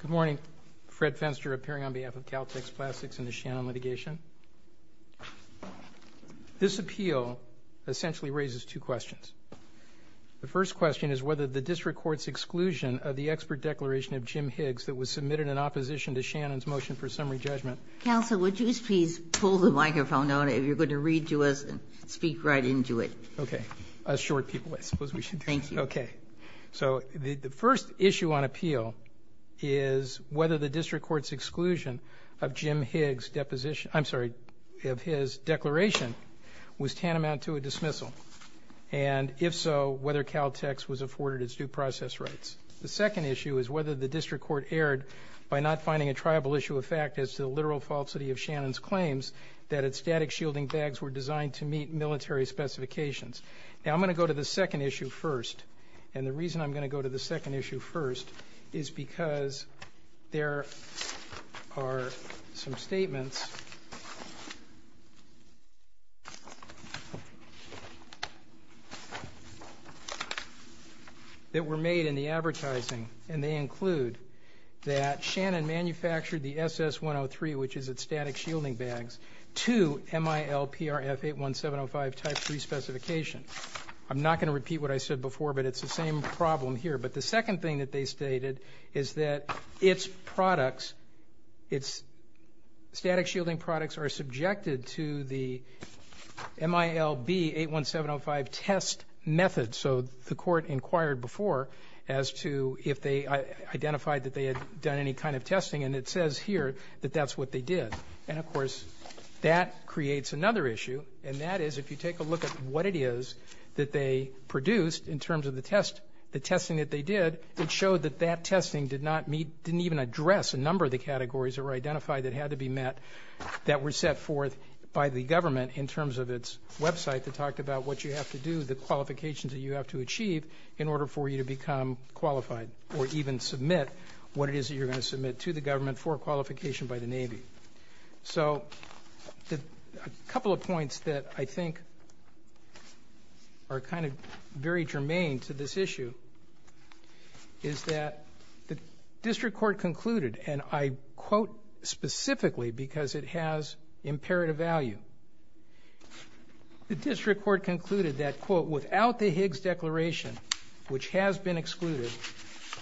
Good morning. Fred Fenster, appearing on behalf of Caltex Plastics and the Shannon litigation. This appeal essentially raises two questions. The first question is whether the district court's exclusion of the expert declaration of Jim Higgs that was submitted in opposition to Shannon's motion for summary judgment. Counsel, would you please pull the microphone out if you're going to read to us and speak right into it? Okay. Short people, I suppose we should do that. Thank you. Okay. So the first issue on appeal is whether the district court's exclusion of Jim Higgs' deposition I'm sorry, of his declaration was tantamount to a dismissal. And if so, whether Caltex was afforded its due process rights. The second issue is whether the district court erred by not finding a triable issue of fact as to the literal falsity of Shannon's claims that its static shielding bags were designed to meet military specifications. Now, I'm going to go to the second issue first. And the reason I'm going to go to the second issue first is because there are some statements that were made in the advertising, and they include that Shannon manufactured the SS-103, which is its static shielding bags, to MIL-PRF-81705 type 3 specification. I'm not going to repeat what I said before, but it's the same problem here. But the second thing that they stated is that its products, its static shielding products, are subjected to the MIL-B-81705 test method. So the court inquired before as to if they identified that they had done any kind of testing. And it says here that that's what they did. And, of course, that creates another issue, and that is if you take a look at what it is that they produced in terms of the testing that they did, it showed that that testing didn't even address a number of the categories that were identified that had to be met that were set forth by the government in terms of its website that talked about what you have to do, the qualifications that you have to achieve in order for you to become qualified or even submit what it is that you're going to submit to the government for qualification by the Navy. So a couple of points that I think are kind of very germane to this issue is that the district court concluded, and I quote specifically because it has imperative value, the district court concluded that, quote, without the Higgs declaration, which has been excluded,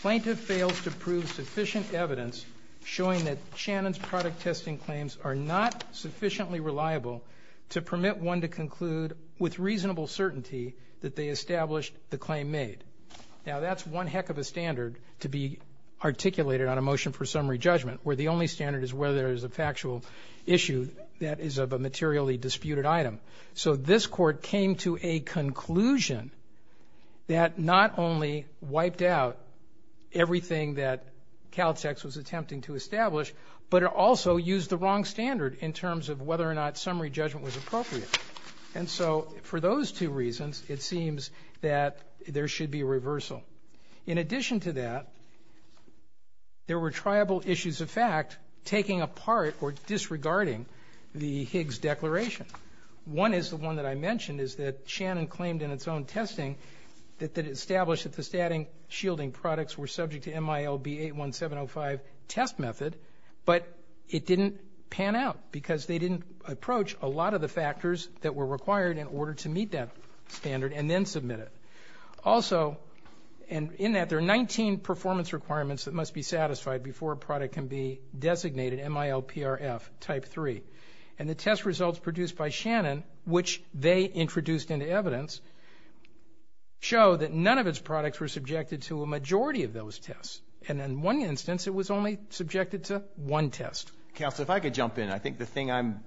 plaintiff fails to prove sufficient evidence showing that Shannon's product testing claims are not sufficiently reliable to permit one to conclude with reasonable certainty that they established the claim made. Now, that's one heck of a standard to be articulated on a motion for summary judgment, where the only standard is whether there's a factual issue that is of a materially disputed item. So this court came to a conclusion that not only wiped out everything that Caltex was attempting to establish, but it also used the wrong standard in terms of whether or not summary judgment was appropriate. And so for those two reasons, it seems that there should be a reversal. In addition to that, there were triable issues of fact taking apart or disregarding the Higgs declaration. One is the one that I mentioned is that Shannon claimed in its own testing that it established that the statting shielding products were subject to MILB 81705 test method, but it didn't pan out because they didn't approach a lot of the factors that were required in order to meet that standard and then submit it. Also, and in that, there are 19 performance requirements that must be satisfied before a product can be designated MILPRF type 3. And the test results produced by Shannon, which they introduced into evidence, show that none of its products were subjected to a majority of those tests. And in one instance, it was only subjected to one test. Counsel, if I could jump in. I think the thing I'm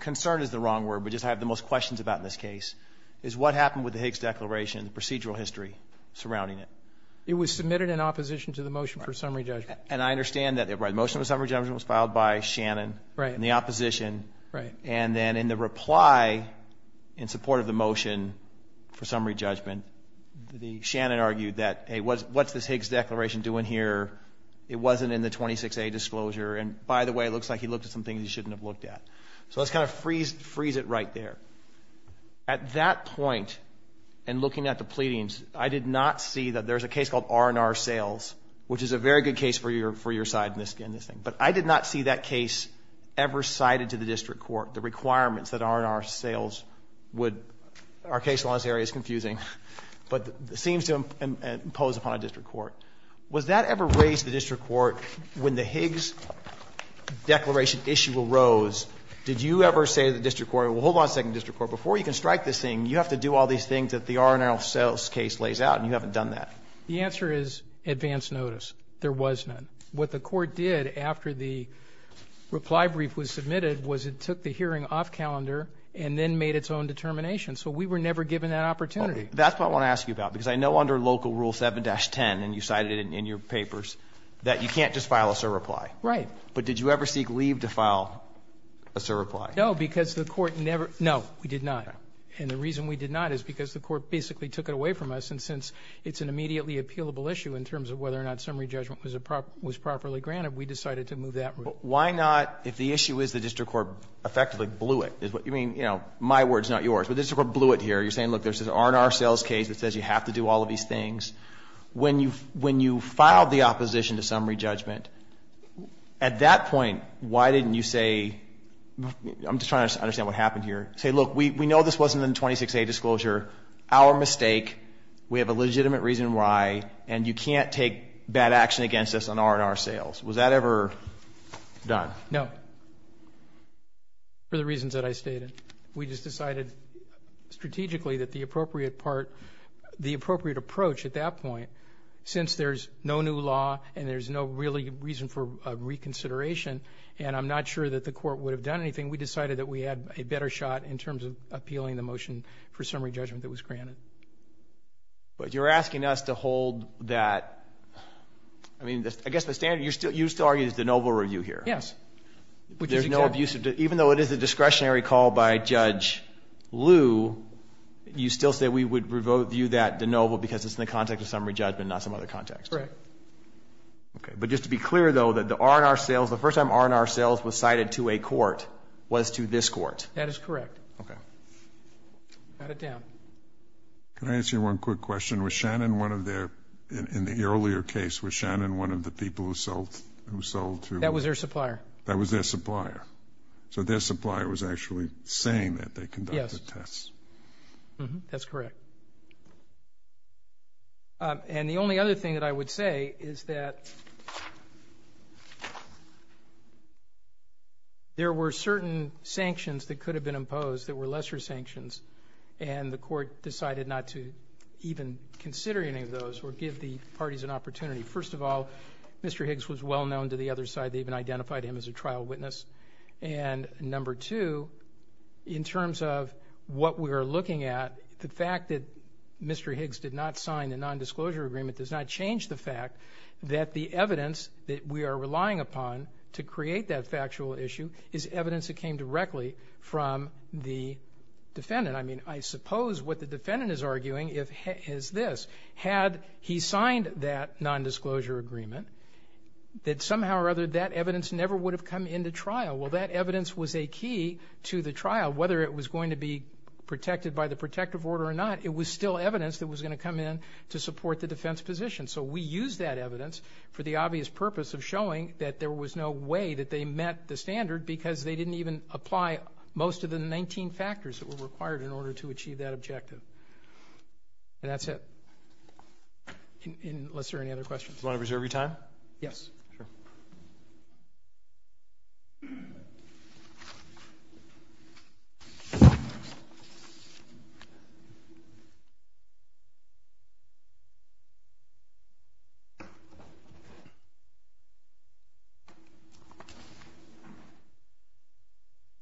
concerned is the wrong word, but just I have the most questions about in this case, is what happened with the Higgs declaration, the procedural history surrounding it. It was submitted in opposition to the motion for summary judgment. And I understand that the motion for summary judgment was filed by Shannon in the opposition. Right. And then in the reply in support of the motion for summary judgment, Shannon argued that, hey, what's this Higgs declaration doing here? It wasn't in the 26A disclosure, and by the way, it looks like he looked at some things he shouldn't have looked at. So let's kind of freeze it right there. At that point, in looking at the pleadings, I did not see that there's a case called R&R sales, which is a very good case for your side in this thing, but I did not see that case ever cited to the district court, the requirements that R&R sales would – our case in this area is confusing, but seems to impose upon a district court. Was that ever raised to the district court when the Higgs declaration issue arose? Did you ever say to the district court, well, hold on a second, district court, before you can strike this thing, you have to do all these things that the R&R sales case lays out, and you haven't done that? The answer is advance notice. There was none. What the court did after the reply brief was submitted was it took the hearing off calendar and then made its own determination. So we were never given that opportunity. That's what I want to ask you about, because I know under Local Rule 7-10, and you cited it in your papers, that you can't just file a surreply. Right. But did you ever seek leave to file a surreply? No, because the court never – no, we did not. And the reason we did not is because the court basically took it away from us, and since it's an immediately appealable issue in terms of whether or not summary judgment was properly granted, we decided to move that route. Why not, if the issue is the district court effectively blew it? I mean, you know, my word is not yours, but the district court blew it here. You're saying, look, there's this R&R sales case that says you have to do all of these things. When you filed the opposition to summary judgment, at that point, why didn't you say – I'm just trying to understand what happened here. Say, look, we know this wasn't in the 26A disclosure. Our mistake. We have a legitimate reason why, and you can't take bad action against us on R&R sales. Was that ever done? No, for the reasons that I stated. We just decided strategically that the appropriate part – the appropriate approach at that point, since there's no new law and there's no real reason for reconsideration, and I'm not sure that the court would have done anything, we decided that we had a better shot in terms of appealing the motion for summary judgment that was granted. But you're asking us to hold that – I mean, I guess the standard – you used to argue it's de novo review here. Yes. There's no abuse of – even though it is a discretionary call by Judge Liu, you still say we would review that de novo because it's in the context of summary judgment, not some other context. Correct. Okay. But just to be clear, though, that the R&R sales – the first time R&R sales was cited to a court was to this court. That is correct. Okay. Got it down. Can I ask you one quick question? Was Shannon one of their – in the earlier case, was Shannon one of the people who sold to – That was their supplier. That was their supplier. So their supplier was actually saying that they conducted tests. Yes. That's correct. And the only other thing that I would say is that there were certain sanctions that could have been imposed that were lesser sanctions, and the court decided not to even consider any of those or give the parties an opportunity. First of all, Mr. Higgs was well known to the other side. They even identified him as a trial witness. And number two, in terms of what we are looking at, the fact that Mr. Higgs did not sign the nondisclosure agreement does not change the fact that the evidence that we are relying upon to create that factual issue is evidence that came directly from the defendant. I mean, I suppose what the defendant is arguing is this. Had he signed that nondisclosure agreement, that somehow or other that evidence never would have come into trial. Well, that evidence was a key to the trial. Whether it was going to be protected by the protective order or not, it was still evidence that was going to come in to support the defense position. So we used that evidence for the obvious purpose of showing that there was no way that they met the standard because they didn't even apply most of the 19 factors that were required in order to achieve that objective. And that's it. Unless there are any other questions. Do you want to reserve your time? Yes. Sure.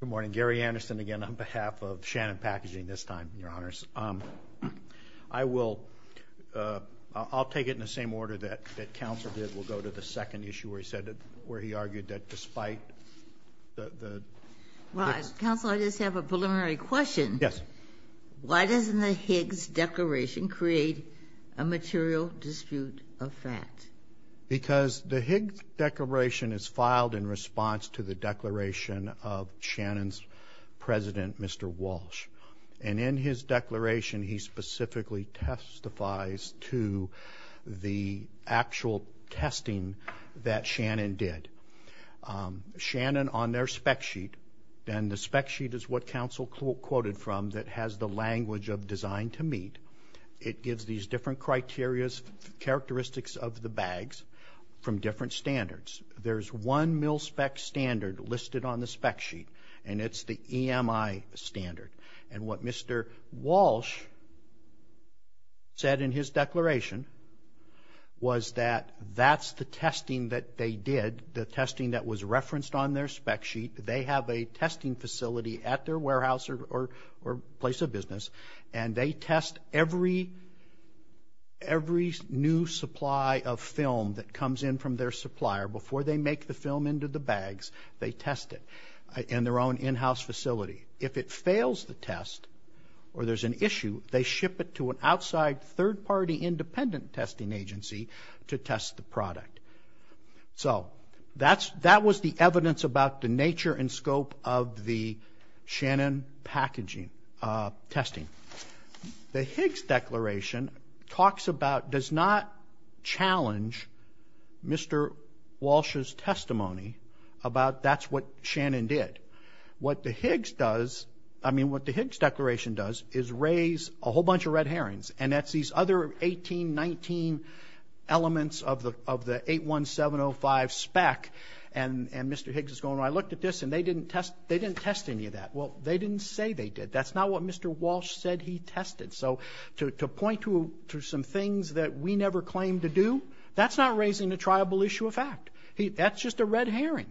Good morning. Gary Anderson again on behalf of Shannon Packaging this time, Your Honors. I will take it in the same order that counsel did. We'll go to the second issue where he said that, where he argued that despite the Well, counsel, I just have a preliminary question. Yes. Why doesn't the Higgs declaration create a material dispute of fact? Because the Higgs declaration is filed in response to the declaration of Shannon's president, Mr. Walsh. And in his declaration, he specifically testifies to the actual testing that Shannon did. Shannon on their spec sheet, and the spec sheet is what counsel quoted from that has the language of design to meet. It gives these different criteria, characteristics of the bags from different standards. There's one mil spec standard listed on the spec sheet, and it's the EMI standard. And what Mr. Walsh said in his declaration was that that's the testing that they did, the testing that was referenced on their spec sheet. They have a testing facility at their warehouse or place of business, and they test every new supply of film that comes in from their supplier before they make the film into the bags. They test it in their own in-house facility. If it fails the test or there's an issue, they ship it to an outside third-party independent testing agency to test the product. So that was the evidence about the nature and scope of the Shannon packaging testing. The Higgs declaration talks about, does not challenge Mr. Walsh's testimony about that's what Shannon did. What the Higgs does, I mean, what the Higgs declaration does is raise a whole bunch of red herrings, and that's these other 18, 19 elements of the 81705 spec. And Mr. Higgs is going, I looked at this, and they didn't test any of that. Well, they didn't say they did. That's not what Mr. Walsh said he tested. So to point to some things that we never claimed to do, that's not raising a triable issue of fact. That's just a red herring.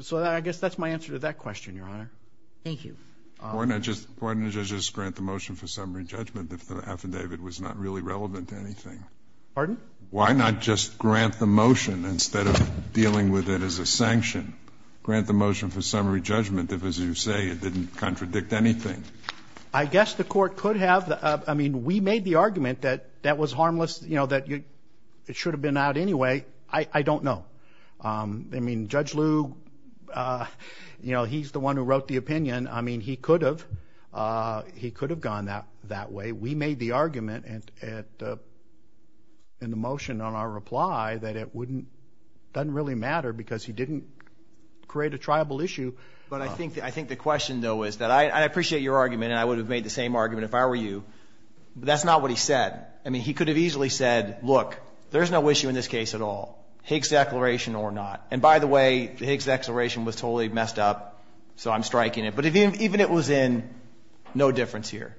So I guess that's my answer to that question, Your Honor. Thank you. Why not just grant the motion for summary judgment if the affidavit was not really relevant to anything? Pardon? Why not just grant the motion instead of dealing with it as a sanction? Grant the motion for summary judgment if, as you say, it didn't contradict anything. I guess the court could have. I mean, we made the argument that that was harmless, you know, that it should have been out anyway. I don't know. I mean, Judge Liu, you know, he's the one who wrote the opinion. I mean, he could have. He could have gone that way. We made the argument in the motion on our reply that it doesn't really matter because he didn't create a triable issue. But I think the question, though, is that I appreciate your argument, and I would have made the same argument if I were you. But that's not what he said. I mean, he could have easily said, look, there's no issue in this case at all, Higgs declaration or not. And by the way, the Higgs declaration was totally messed up, so I'm striking it. But even if it was in, no difference here.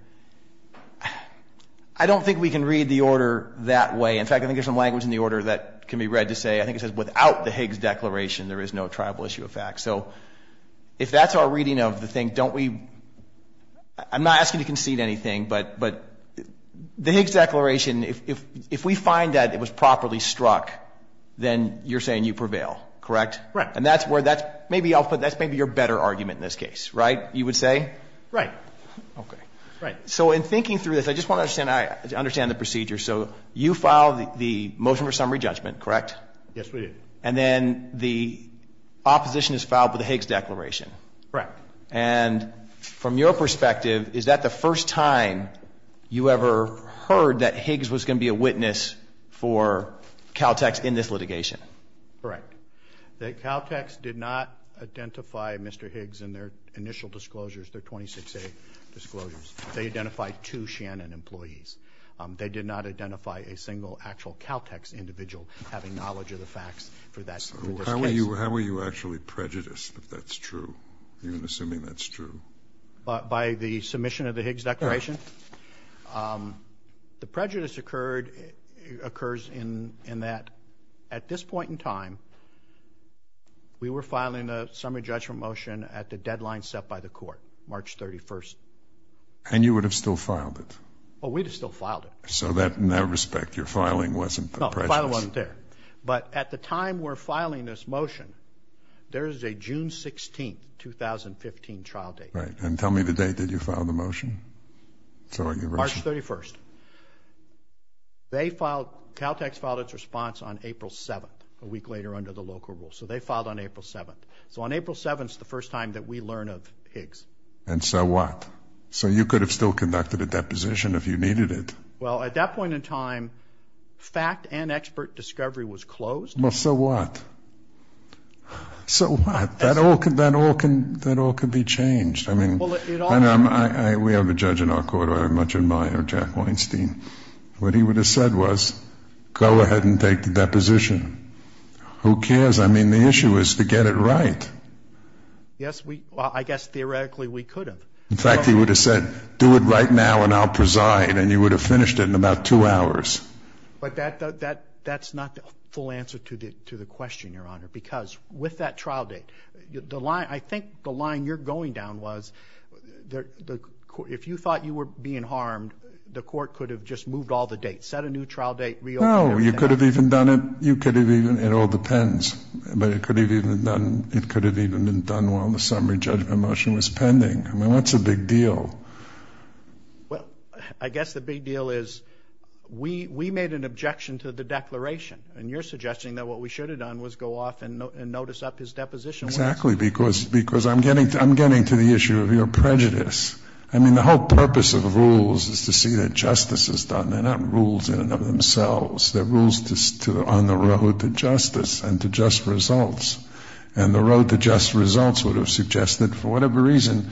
I don't think we can read the order that way. In fact, I think there's some language in the order that can be read to say, I think it says, without the Higgs declaration, there is no triable issue of fact. So if that's our reading of the thing, don't we – I'm not asking you to concede anything, but the Higgs declaration, if we find that it was properly struck, then you're saying you prevail, correct? Right. And that's where that's – maybe I'll put – that's maybe your better argument in this case, right, you would say? Right. Okay. Right. So in thinking through this, I just want to understand the procedure. So you filed the motion for summary judgment, correct? Yes, we did. And then the opposition is filed with the Higgs declaration. Correct. And from your perspective, is that the first time you ever heard that Higgs was going to be a witness for Caltex in this litigation? Correct. Caltex did not identify Mr. Higgs in their initial disclosures, their 26A disclosures. They identified two Shannon employees. They did not identify a single actual Caltex individual having knowledge of the facts for this case. How were you actually prejudiced if that's true, even assuming that's true? By the submission of the Higgs declaration? The prejudice occurs in that at this point in time, we were filing a summary judgment motion at the deadline set by the court, March 31st. And you would have still filed it? Well, we'd have still filed it. So in that respect, your filing wasn't the prejudice? No, the filing wasn't there. But at the time we're filing this motion, there is a June 16th, 2015 trial date. Right. And tell me the date that you filed the motion. March 31st. Caltex filed its response on April 7th, a week later under the local rule. So they filed on April 7th. So on April 7th is the first time that we learn of Higgs. And so what? So you could have still conducted a deposition if you needed it. Well, at that point in time, fact and expert discovery was closed. Well, so what? So what? That all could be changed. I mean, we have a judge in our court I very much admire, Jack Weinstein. What he would have said was, go ahead and take the deposition. Who cares? I mean, the issue is to get it right. Yes, I guess theoretically we could have. In fact, he would have said, do it right now and I'll preside. And you would have finished it in about two hours. But that's not the full answer to the question, Your Honor, because with that trial date, I think the line you're going down was if you thought you were being harmed, the court could have just moved all the dates, set a new trial date, reopened everything. No, you could have even done it. It all depends. But it could have even been done while the summary judgment motion was pending. I mean, what's the big deal? Well, I guess the big deal is we made an objection to the declaration. And you're suggesting that what we should have done was go off and notice up his deposition. Exactly. Because I'm getting to the issue of your prejudice. I mean, the whole purpose of the rules is to see that justice is done. They're not rules in and of themselves. They're rules on the road to justice and to just results. And the road to just results would have suggested for whatever reason,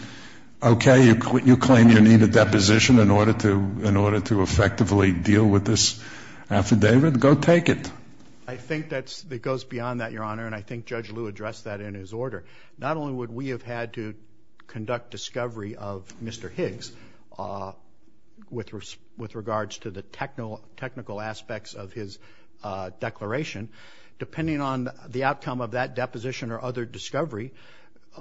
okay, you claim you need a deposition in order to effectively deal with this affidavit. Go take it. I think that goes beyond that, Your Honor. And I think Judge Liu addressed that in his order. Not only would we have had to conduct discovery of Mr. Higgs with regards to the technical aspects of his declaration, depending on the outcome of that deposition or other discovery,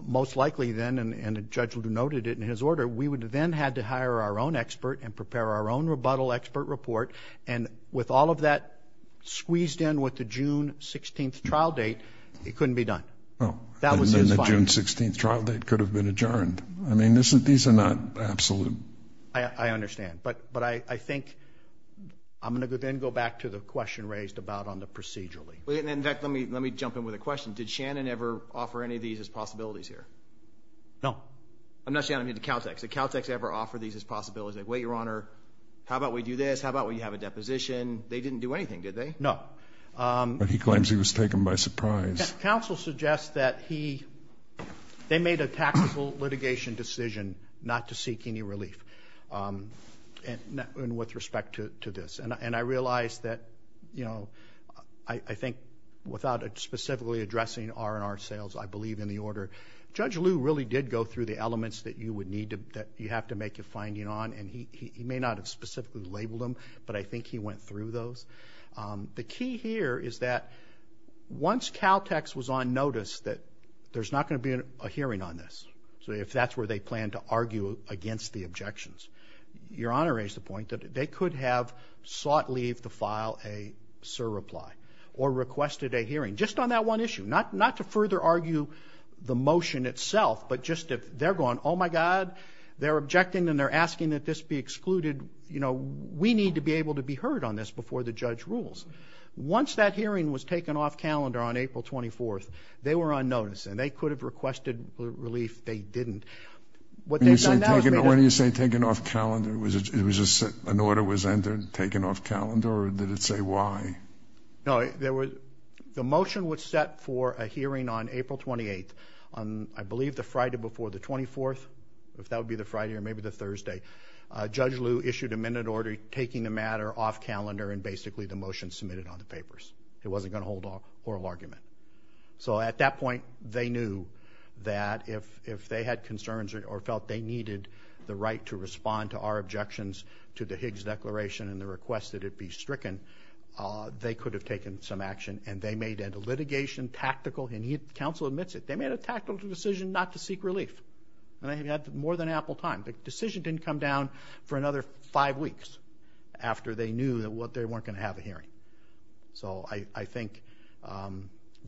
most likely then, and the judge would have noted it in his order, we would have then had to hire our own expert and prepare our own rebuttal expert report. And with all of that squeezed in with the June 16th trial date, it couldn't be done. Well, then the June 16th trial date could have been adjourned. I mean, these are not absolute. I understand. But I think I'm going to then go back to the question raised about on the procedurally. In fact, let me jump in with a question. Did Shannon ever offer any of these as possibilities here? No. I'm not saying anything to Caltech. Did Caltech ever offer these as possibilities? Wait, Your Honor, how about we do this? How about we have a deposition? They didn't do anything, did they? No. But he claims he was taken by surprise. Counsel suggests that they made a tactical litigation decision not to seek any relief with respect to this. And I realize that, you know, I think without specifically addressing R&R sales, I believe in the order. Judge Liu really did go through the elements that you would need to – that you have to make a finding on. And he may not have specifically labeled them, but I think he went through those. The key here is that once Caltech was on notice that there's not going to be a hearing on this, if that's where they plan to argue against the objections, Your Honor raised the point that they could have sought leave to file a surreply or requested a hearing, just on that one issue. Not to further argue the motion itself, but just if they're going, oh, my God, they're objecting and they're asking that this be excluded, you know, we need to be able to be heard on this before the judge rules. Once that hearing was taken off calendar on April 24th, they were on notice. And they could have requested relief. They didn't. When you say taken off calendar, an order was entered, taken off calendar, or did it say why? No, the motion was set for a hearing on April 28th. I believe the Friday before the 24th, if that would be the Friday or maybe the Thursday, Judge Liu issued a minute order taking the matter off calendar and basically the motion submitted on the papers. It wasn't going to hold a whole argument. So at that point, they knew that if they had concerns or felt they needed the right to respond to our objections to the Higgs Declaration and the request that it be stricken, they could have taken some action. And they made a litigation, tactical, and counsel admits it, they made a tactical decision not to seek relief. And they had more than ample time. The decision didn't come down for another five weeks after they knew that they weren't going to have a hearing. So I think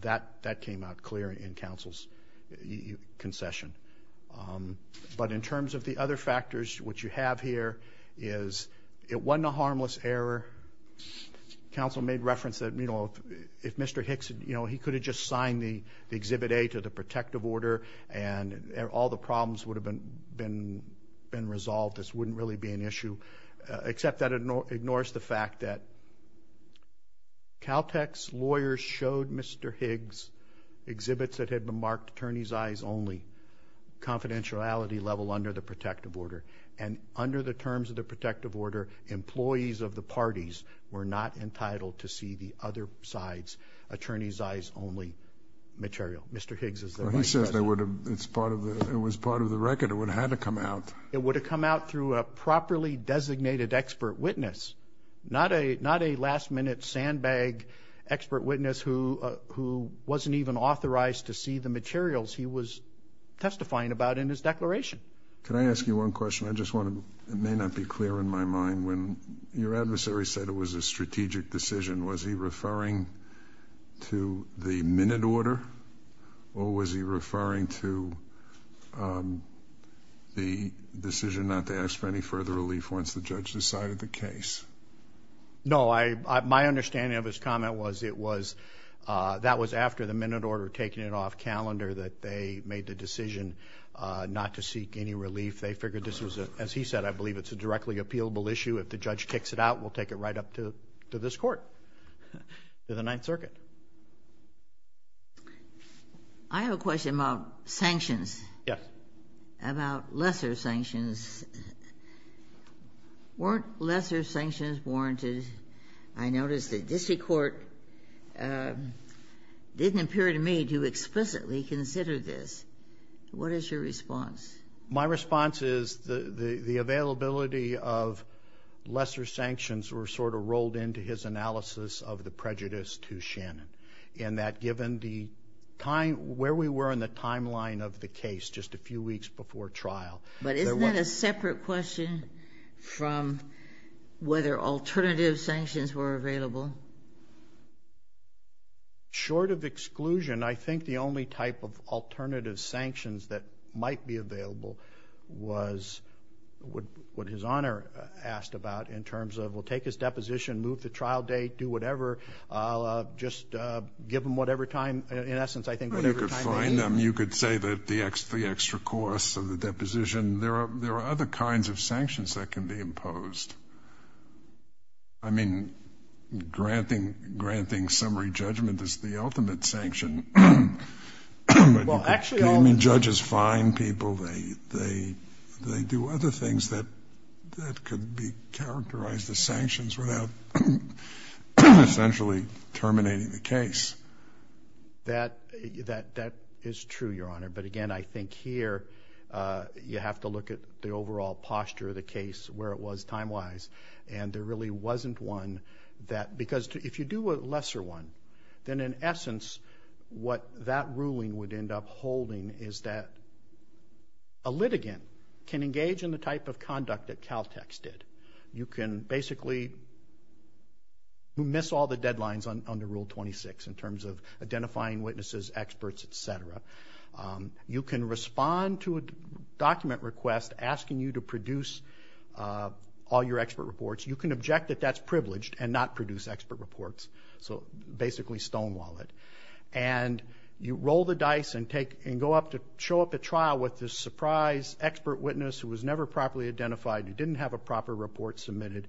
that came out clear in counsel's concession. But in terms of the other factors, what you have here is it wasn't a harmless error. Counsel made reference that, you know, if Mr. Hicks, you know, he could have just signed the Exhibit A to the protective order and all the problems would have been resolved, this wouldn't really be an issue. Except that it ignores the fact that Caltech's lawyers showed Mr. Higgs exhibits that had been marked attorney's eyes only, confidentiality level under the protective order. And under the terms of the protective order, employees of the parties were not entitled to see the other side's attorney's eyes only material. Mr. Higgs is the right person. Well, he said it was part of the record. It would have had to come out. It would have come out through a properly designated expert witness, not a last-minute sandbag expert witness who wasn't even authorized to see the materials he was testifying about in his declaration. Can I ask you one question? It may not be clear in my mind. When your adversary said it was a strategic decision, was he referring to the minute order or was he referring to the decision not to ask for any further relief once the judge decided the case? No. My understanding of his comment was it was that was after the minute order had taken it off calendar that they made the decision not to seek any relief. They figured this was, as he said, I believe it's a directly appealable issue. If the judge kicks it out, we'll take it right up to this court, to the Ninth Circuit. I have a question about sanctions. Yes. About lesser sanctions. Weren't lesser sanctions warranted? I noticed the district court didn't appear to me to explicitly consider this. What is your response? My response is the availability of lesser sanctions were sort of rolled into his analysis of the prejudice to Shannon in that given the time, where we were in the timeline of the case just a few weeks before trial. But isn't that a separate question from whether alternative sanctions were available? Short of exclusion, I think the only type of alternative sanctions that might be available was what his Honor asked about in terms of we'll take his deposition, move the trial date, do whatever. I'll just give them whatever time. In essence, I think whatever time they need. You could say that the extra costs of the deposition. There are other kinds of sanctions that can be imposed. I mean, granting summary judgment is the ultimate sanction. Well, actually, all of them. I mean, judges fine people. They do other things that could be characterized as sanctions without essentially terminating the case. That is true, Your Honor. But again, I think here you have to look at the overall posture of the case, where it was time-wise, and there really wasn't one that because if you do a lesser one, then in essence, what that ruling would end up holding is that a litigant can engage in the type of conduct that Caltex did. You can basically miss all the deadlines under Rule 26 in terms of identifying witnesses, experts, et cetera. You can respond to a document request asking you to produce all your expert reports. You can object that that's privileged and not produce expert reports, so basically stonewall it. And you roll the dice and go up to show up at trial with this surprise expert witness who was never properly identified, who didn't have a proper report submitted,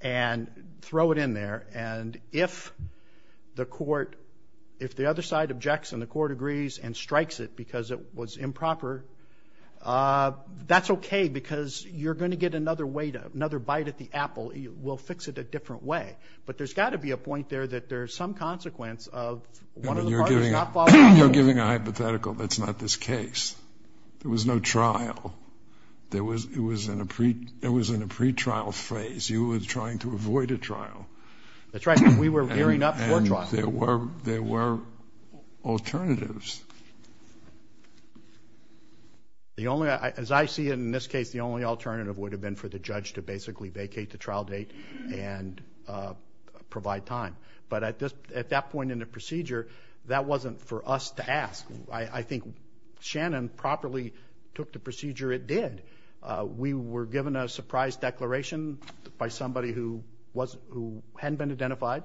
and throw it in there. And if the court, if the other side objects and the court agrees and strikes it because it was improper, that's okay because you're going to get another bite at the apple. We'll fix it a different way. But there's got to be a point there that there's some consequence of one of the parties not following through. You're giving a hypothetical. That's not this case. There was no trial. It was in a pretrial phase. You were trying to avoid a trial. That's right, but we were gearing up for trial. And there were alternatives. As I see it in this case, the only alternative would have been for the judge to basically vacate the trial date and provide time. But at that point in the procedure, that wasn't for us to ask. I think Shannon properly took the procedure it did. We were given a surprise declaration by somebody who hadn't been identified.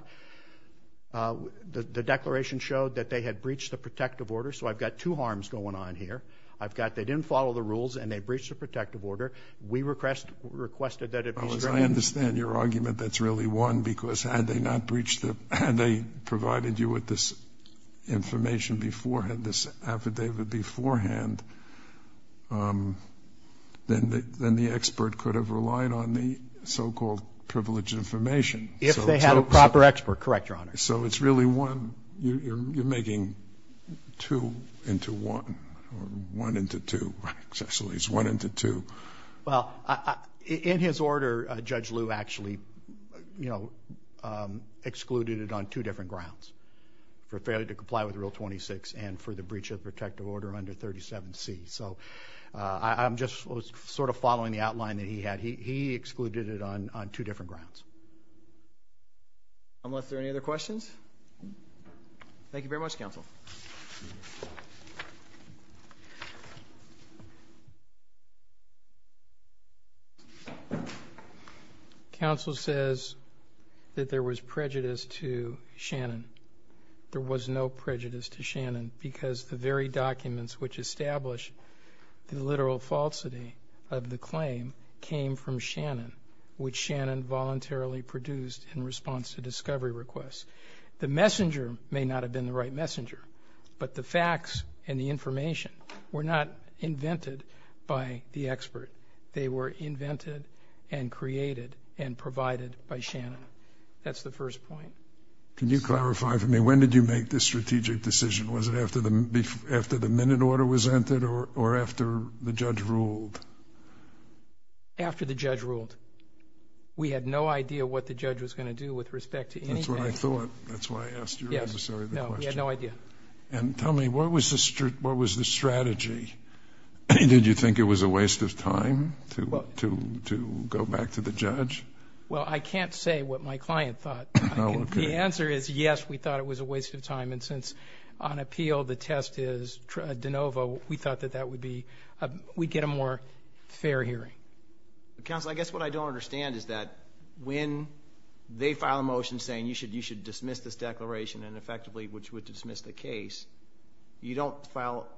The declaration showed that they had breached the protective order. So I've got two harms going on here. I've got they didn't follow the rules and they breached the protective order. We requested that it be strengthened. I understand your argument that's really one, because had they not breached it, had they provided you with this information beforehand, this affidavit beforehand, then the expert could have relied on the so-called privileged information. If they had a proper expert, correct, Your Honor. So it's really one. You're making two into one or one into two. Actually, it's one into two. Well, in his order, Judge Liu actually excluded it on two different grounds, for failure to comply with Rule 26 and for the breach of protective order under 37C. So I'm just sort of following the outline that he had. He excluded it on two different grounds. Unless there are any other questions. Thank you very much, counsel. Counsel says that there was prejudice to Shannon. There was no prejudice to Shannon because the very documents which established the literal falsity of the claim came from Shannon, which Shannon voluntarily produced in response to discovery requests. The messenger may not have been the right messenger, but the facts and the information were not invented by the expert. They were invented and created and provided by Shannon. That's the first point. Can you clarify for me, when did you make this strategic decision? Was it after the minute order was entered or after the judge ruled? After the judge ruled. We had no idea what the judge was going to do with respect to anything. That's what I thought. That's why I asked you the question. No, we had no idea. And tell me, what was the strategy? Did you think it was a waste of time to go back to the judge? Well, I can't say what my client thought. The answer is yes, we thought it was a waste of time. And since on appeal the test is de novo, we thought that that would be we'd get a more fair hearing. Counsel, I guess what I don't understand is that when they file a motion saying you should dismiss this declaration and effectively which would dismiss the case, you don't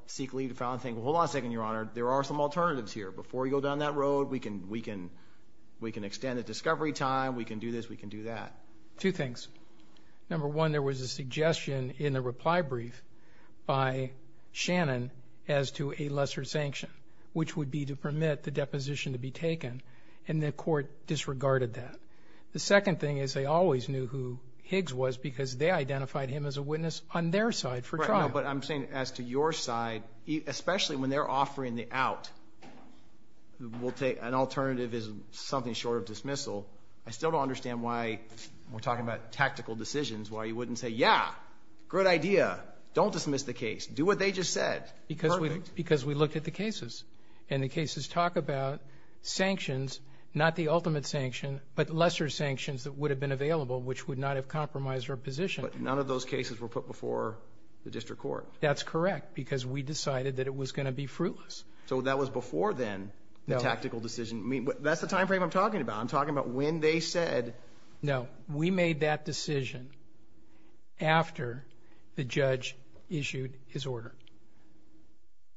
seek leave to file and think, hold on a second, Your Honor, there are some alternatives here. Before we go down that road, we can extend the discovery time. We can do this. We can do that. Two things. Number one, there was a suggestion in the reply brief by Shannon as to a lesser sanction, which would be to permit the deposition to be taken, and the court disregarded that. The second thing is they always knew who Higgs was because they identified him as a witness on their side for trial. But I'm saying as to your side, especially when they're offering the out, an alternative is something short of dismissal. I still don't understand why we're talking about tactical decisions, why you wouldn't say, yeah, good idea, don't dismiss the case, do what they just said. Because we looked at the cases, and the cases talk about sanctions, not the ultimate sanction, but lesser sanctions that would have been available, which would not have compromised our position. But none of those cases were put before the district court. That's correct because we decided that it was going to be fruitless. So that was before then, the tactical decision. That's the time frame I'm talking about. I'm talking about when they said. No, we made that decision after the judge issued his order.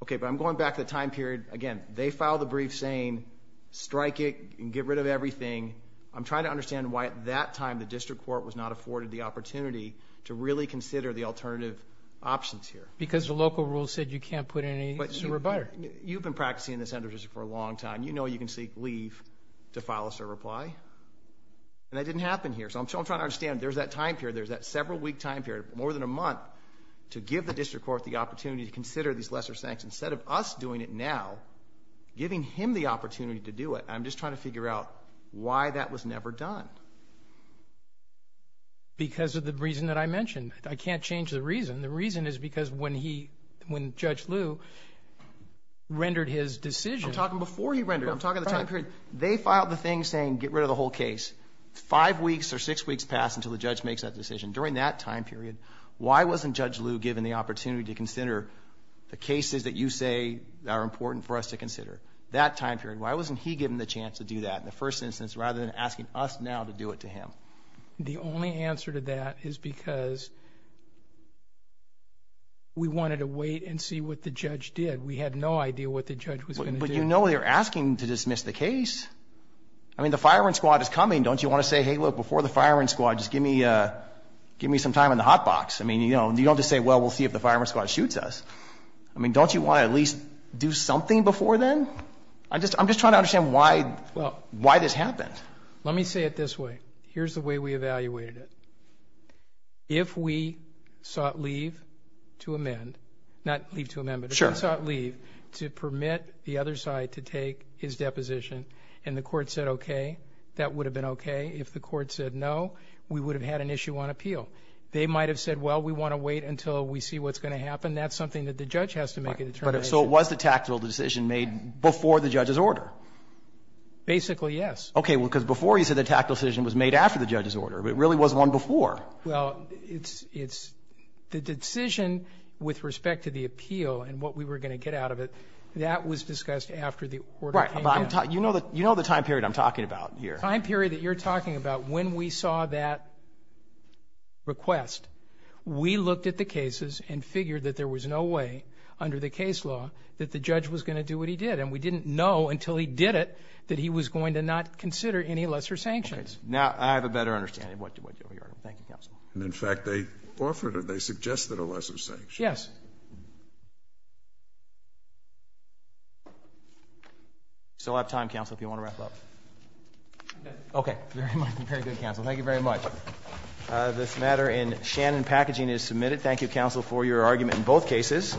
Okay, but I'm going back to the time period. Again, they filed a brief saying strike it and get rid of everything. I'm trying to understand why at that time the district court was not afforded the opportunity to really consider the alternative options here. Because the local rules said you can't put in a surreptiter. You've been practicing in the center for a long time. You know you can seek leave to file a surreptiter. And that didn't happen here. So I'm trying to understand. There's that time period, there's that several-week time period, more than a month to give the district court the opportunity to consider these lesser sanctions. Instead of us doing it now, giving him the opportunity to do it. I'm just trying to figure out why that was never done. Because of the reason that I mentioned. I can't change the reason. The reason is because when Judge Liu rendered his decision. I'm talking before he rendered it. I'm talking the time period. They filed the thing saying get rid of the whole case. Five weeks or six weeks passed until the judge makes that decision. During that time period, why wasn't Judge Liu given the opportunity to consider the cases that you say are important for us to consider? That time period, why wasn't he given the chance to do that in the first instance rather than asking us now to do it to him? The only answer to that is because we wanted to wait and see what the judge did. We had no idea what the judge was going to do. But you know they're asking to dismiss the case. I mean, the fireman's squad is coming. Don't you want to say, hey, look, before the fireman's squad, just give me some time in the hot box? I mean, you don't just say, well, we'll see if the fireman's squad shoots us. I mean, don't you want to at least do something before then? I'm just trying to understand why this happened. Let me say it this way. Here's the way we evaluated it. If we sought leave to amend, not leave to amend, but if we sought leave to permit the other side to take his deposition and the court said okay, that would have been okay. If the court said no, we would have had an issue on appeal. They might have said, well, we want to wait until we see what's going to happen. That's something that the judge has to make a determination. But if so, was the tactical decision made before the judge's order? Basically, yes. Okay. Well, because before you said the tactical decision was made after the judge's order, but it really was one before. Well, it's the decision with respect to the appeal and what we were going to get out of it, that was discussed after the order came in. Right. You know the time period I'm talking about here. The time period that you're talking about when we saw that request, we looked at the cases and figured that there was no way under the case law that the judge was going to do what he did. And we didn't know until he did it that he was going to not consider any lesser sanctions. Now, I have a better understanding of what you're arguing. Thank you, counsel. And, in fact, they offered or they suggested a lesser sanction. Yes. We still have time, counsel, if you want to wrap up. Okay. Very good, counsel. Thank you very much. This matter in Shannon packaging is submitted. Thank you, counsel, for your argument in both cases.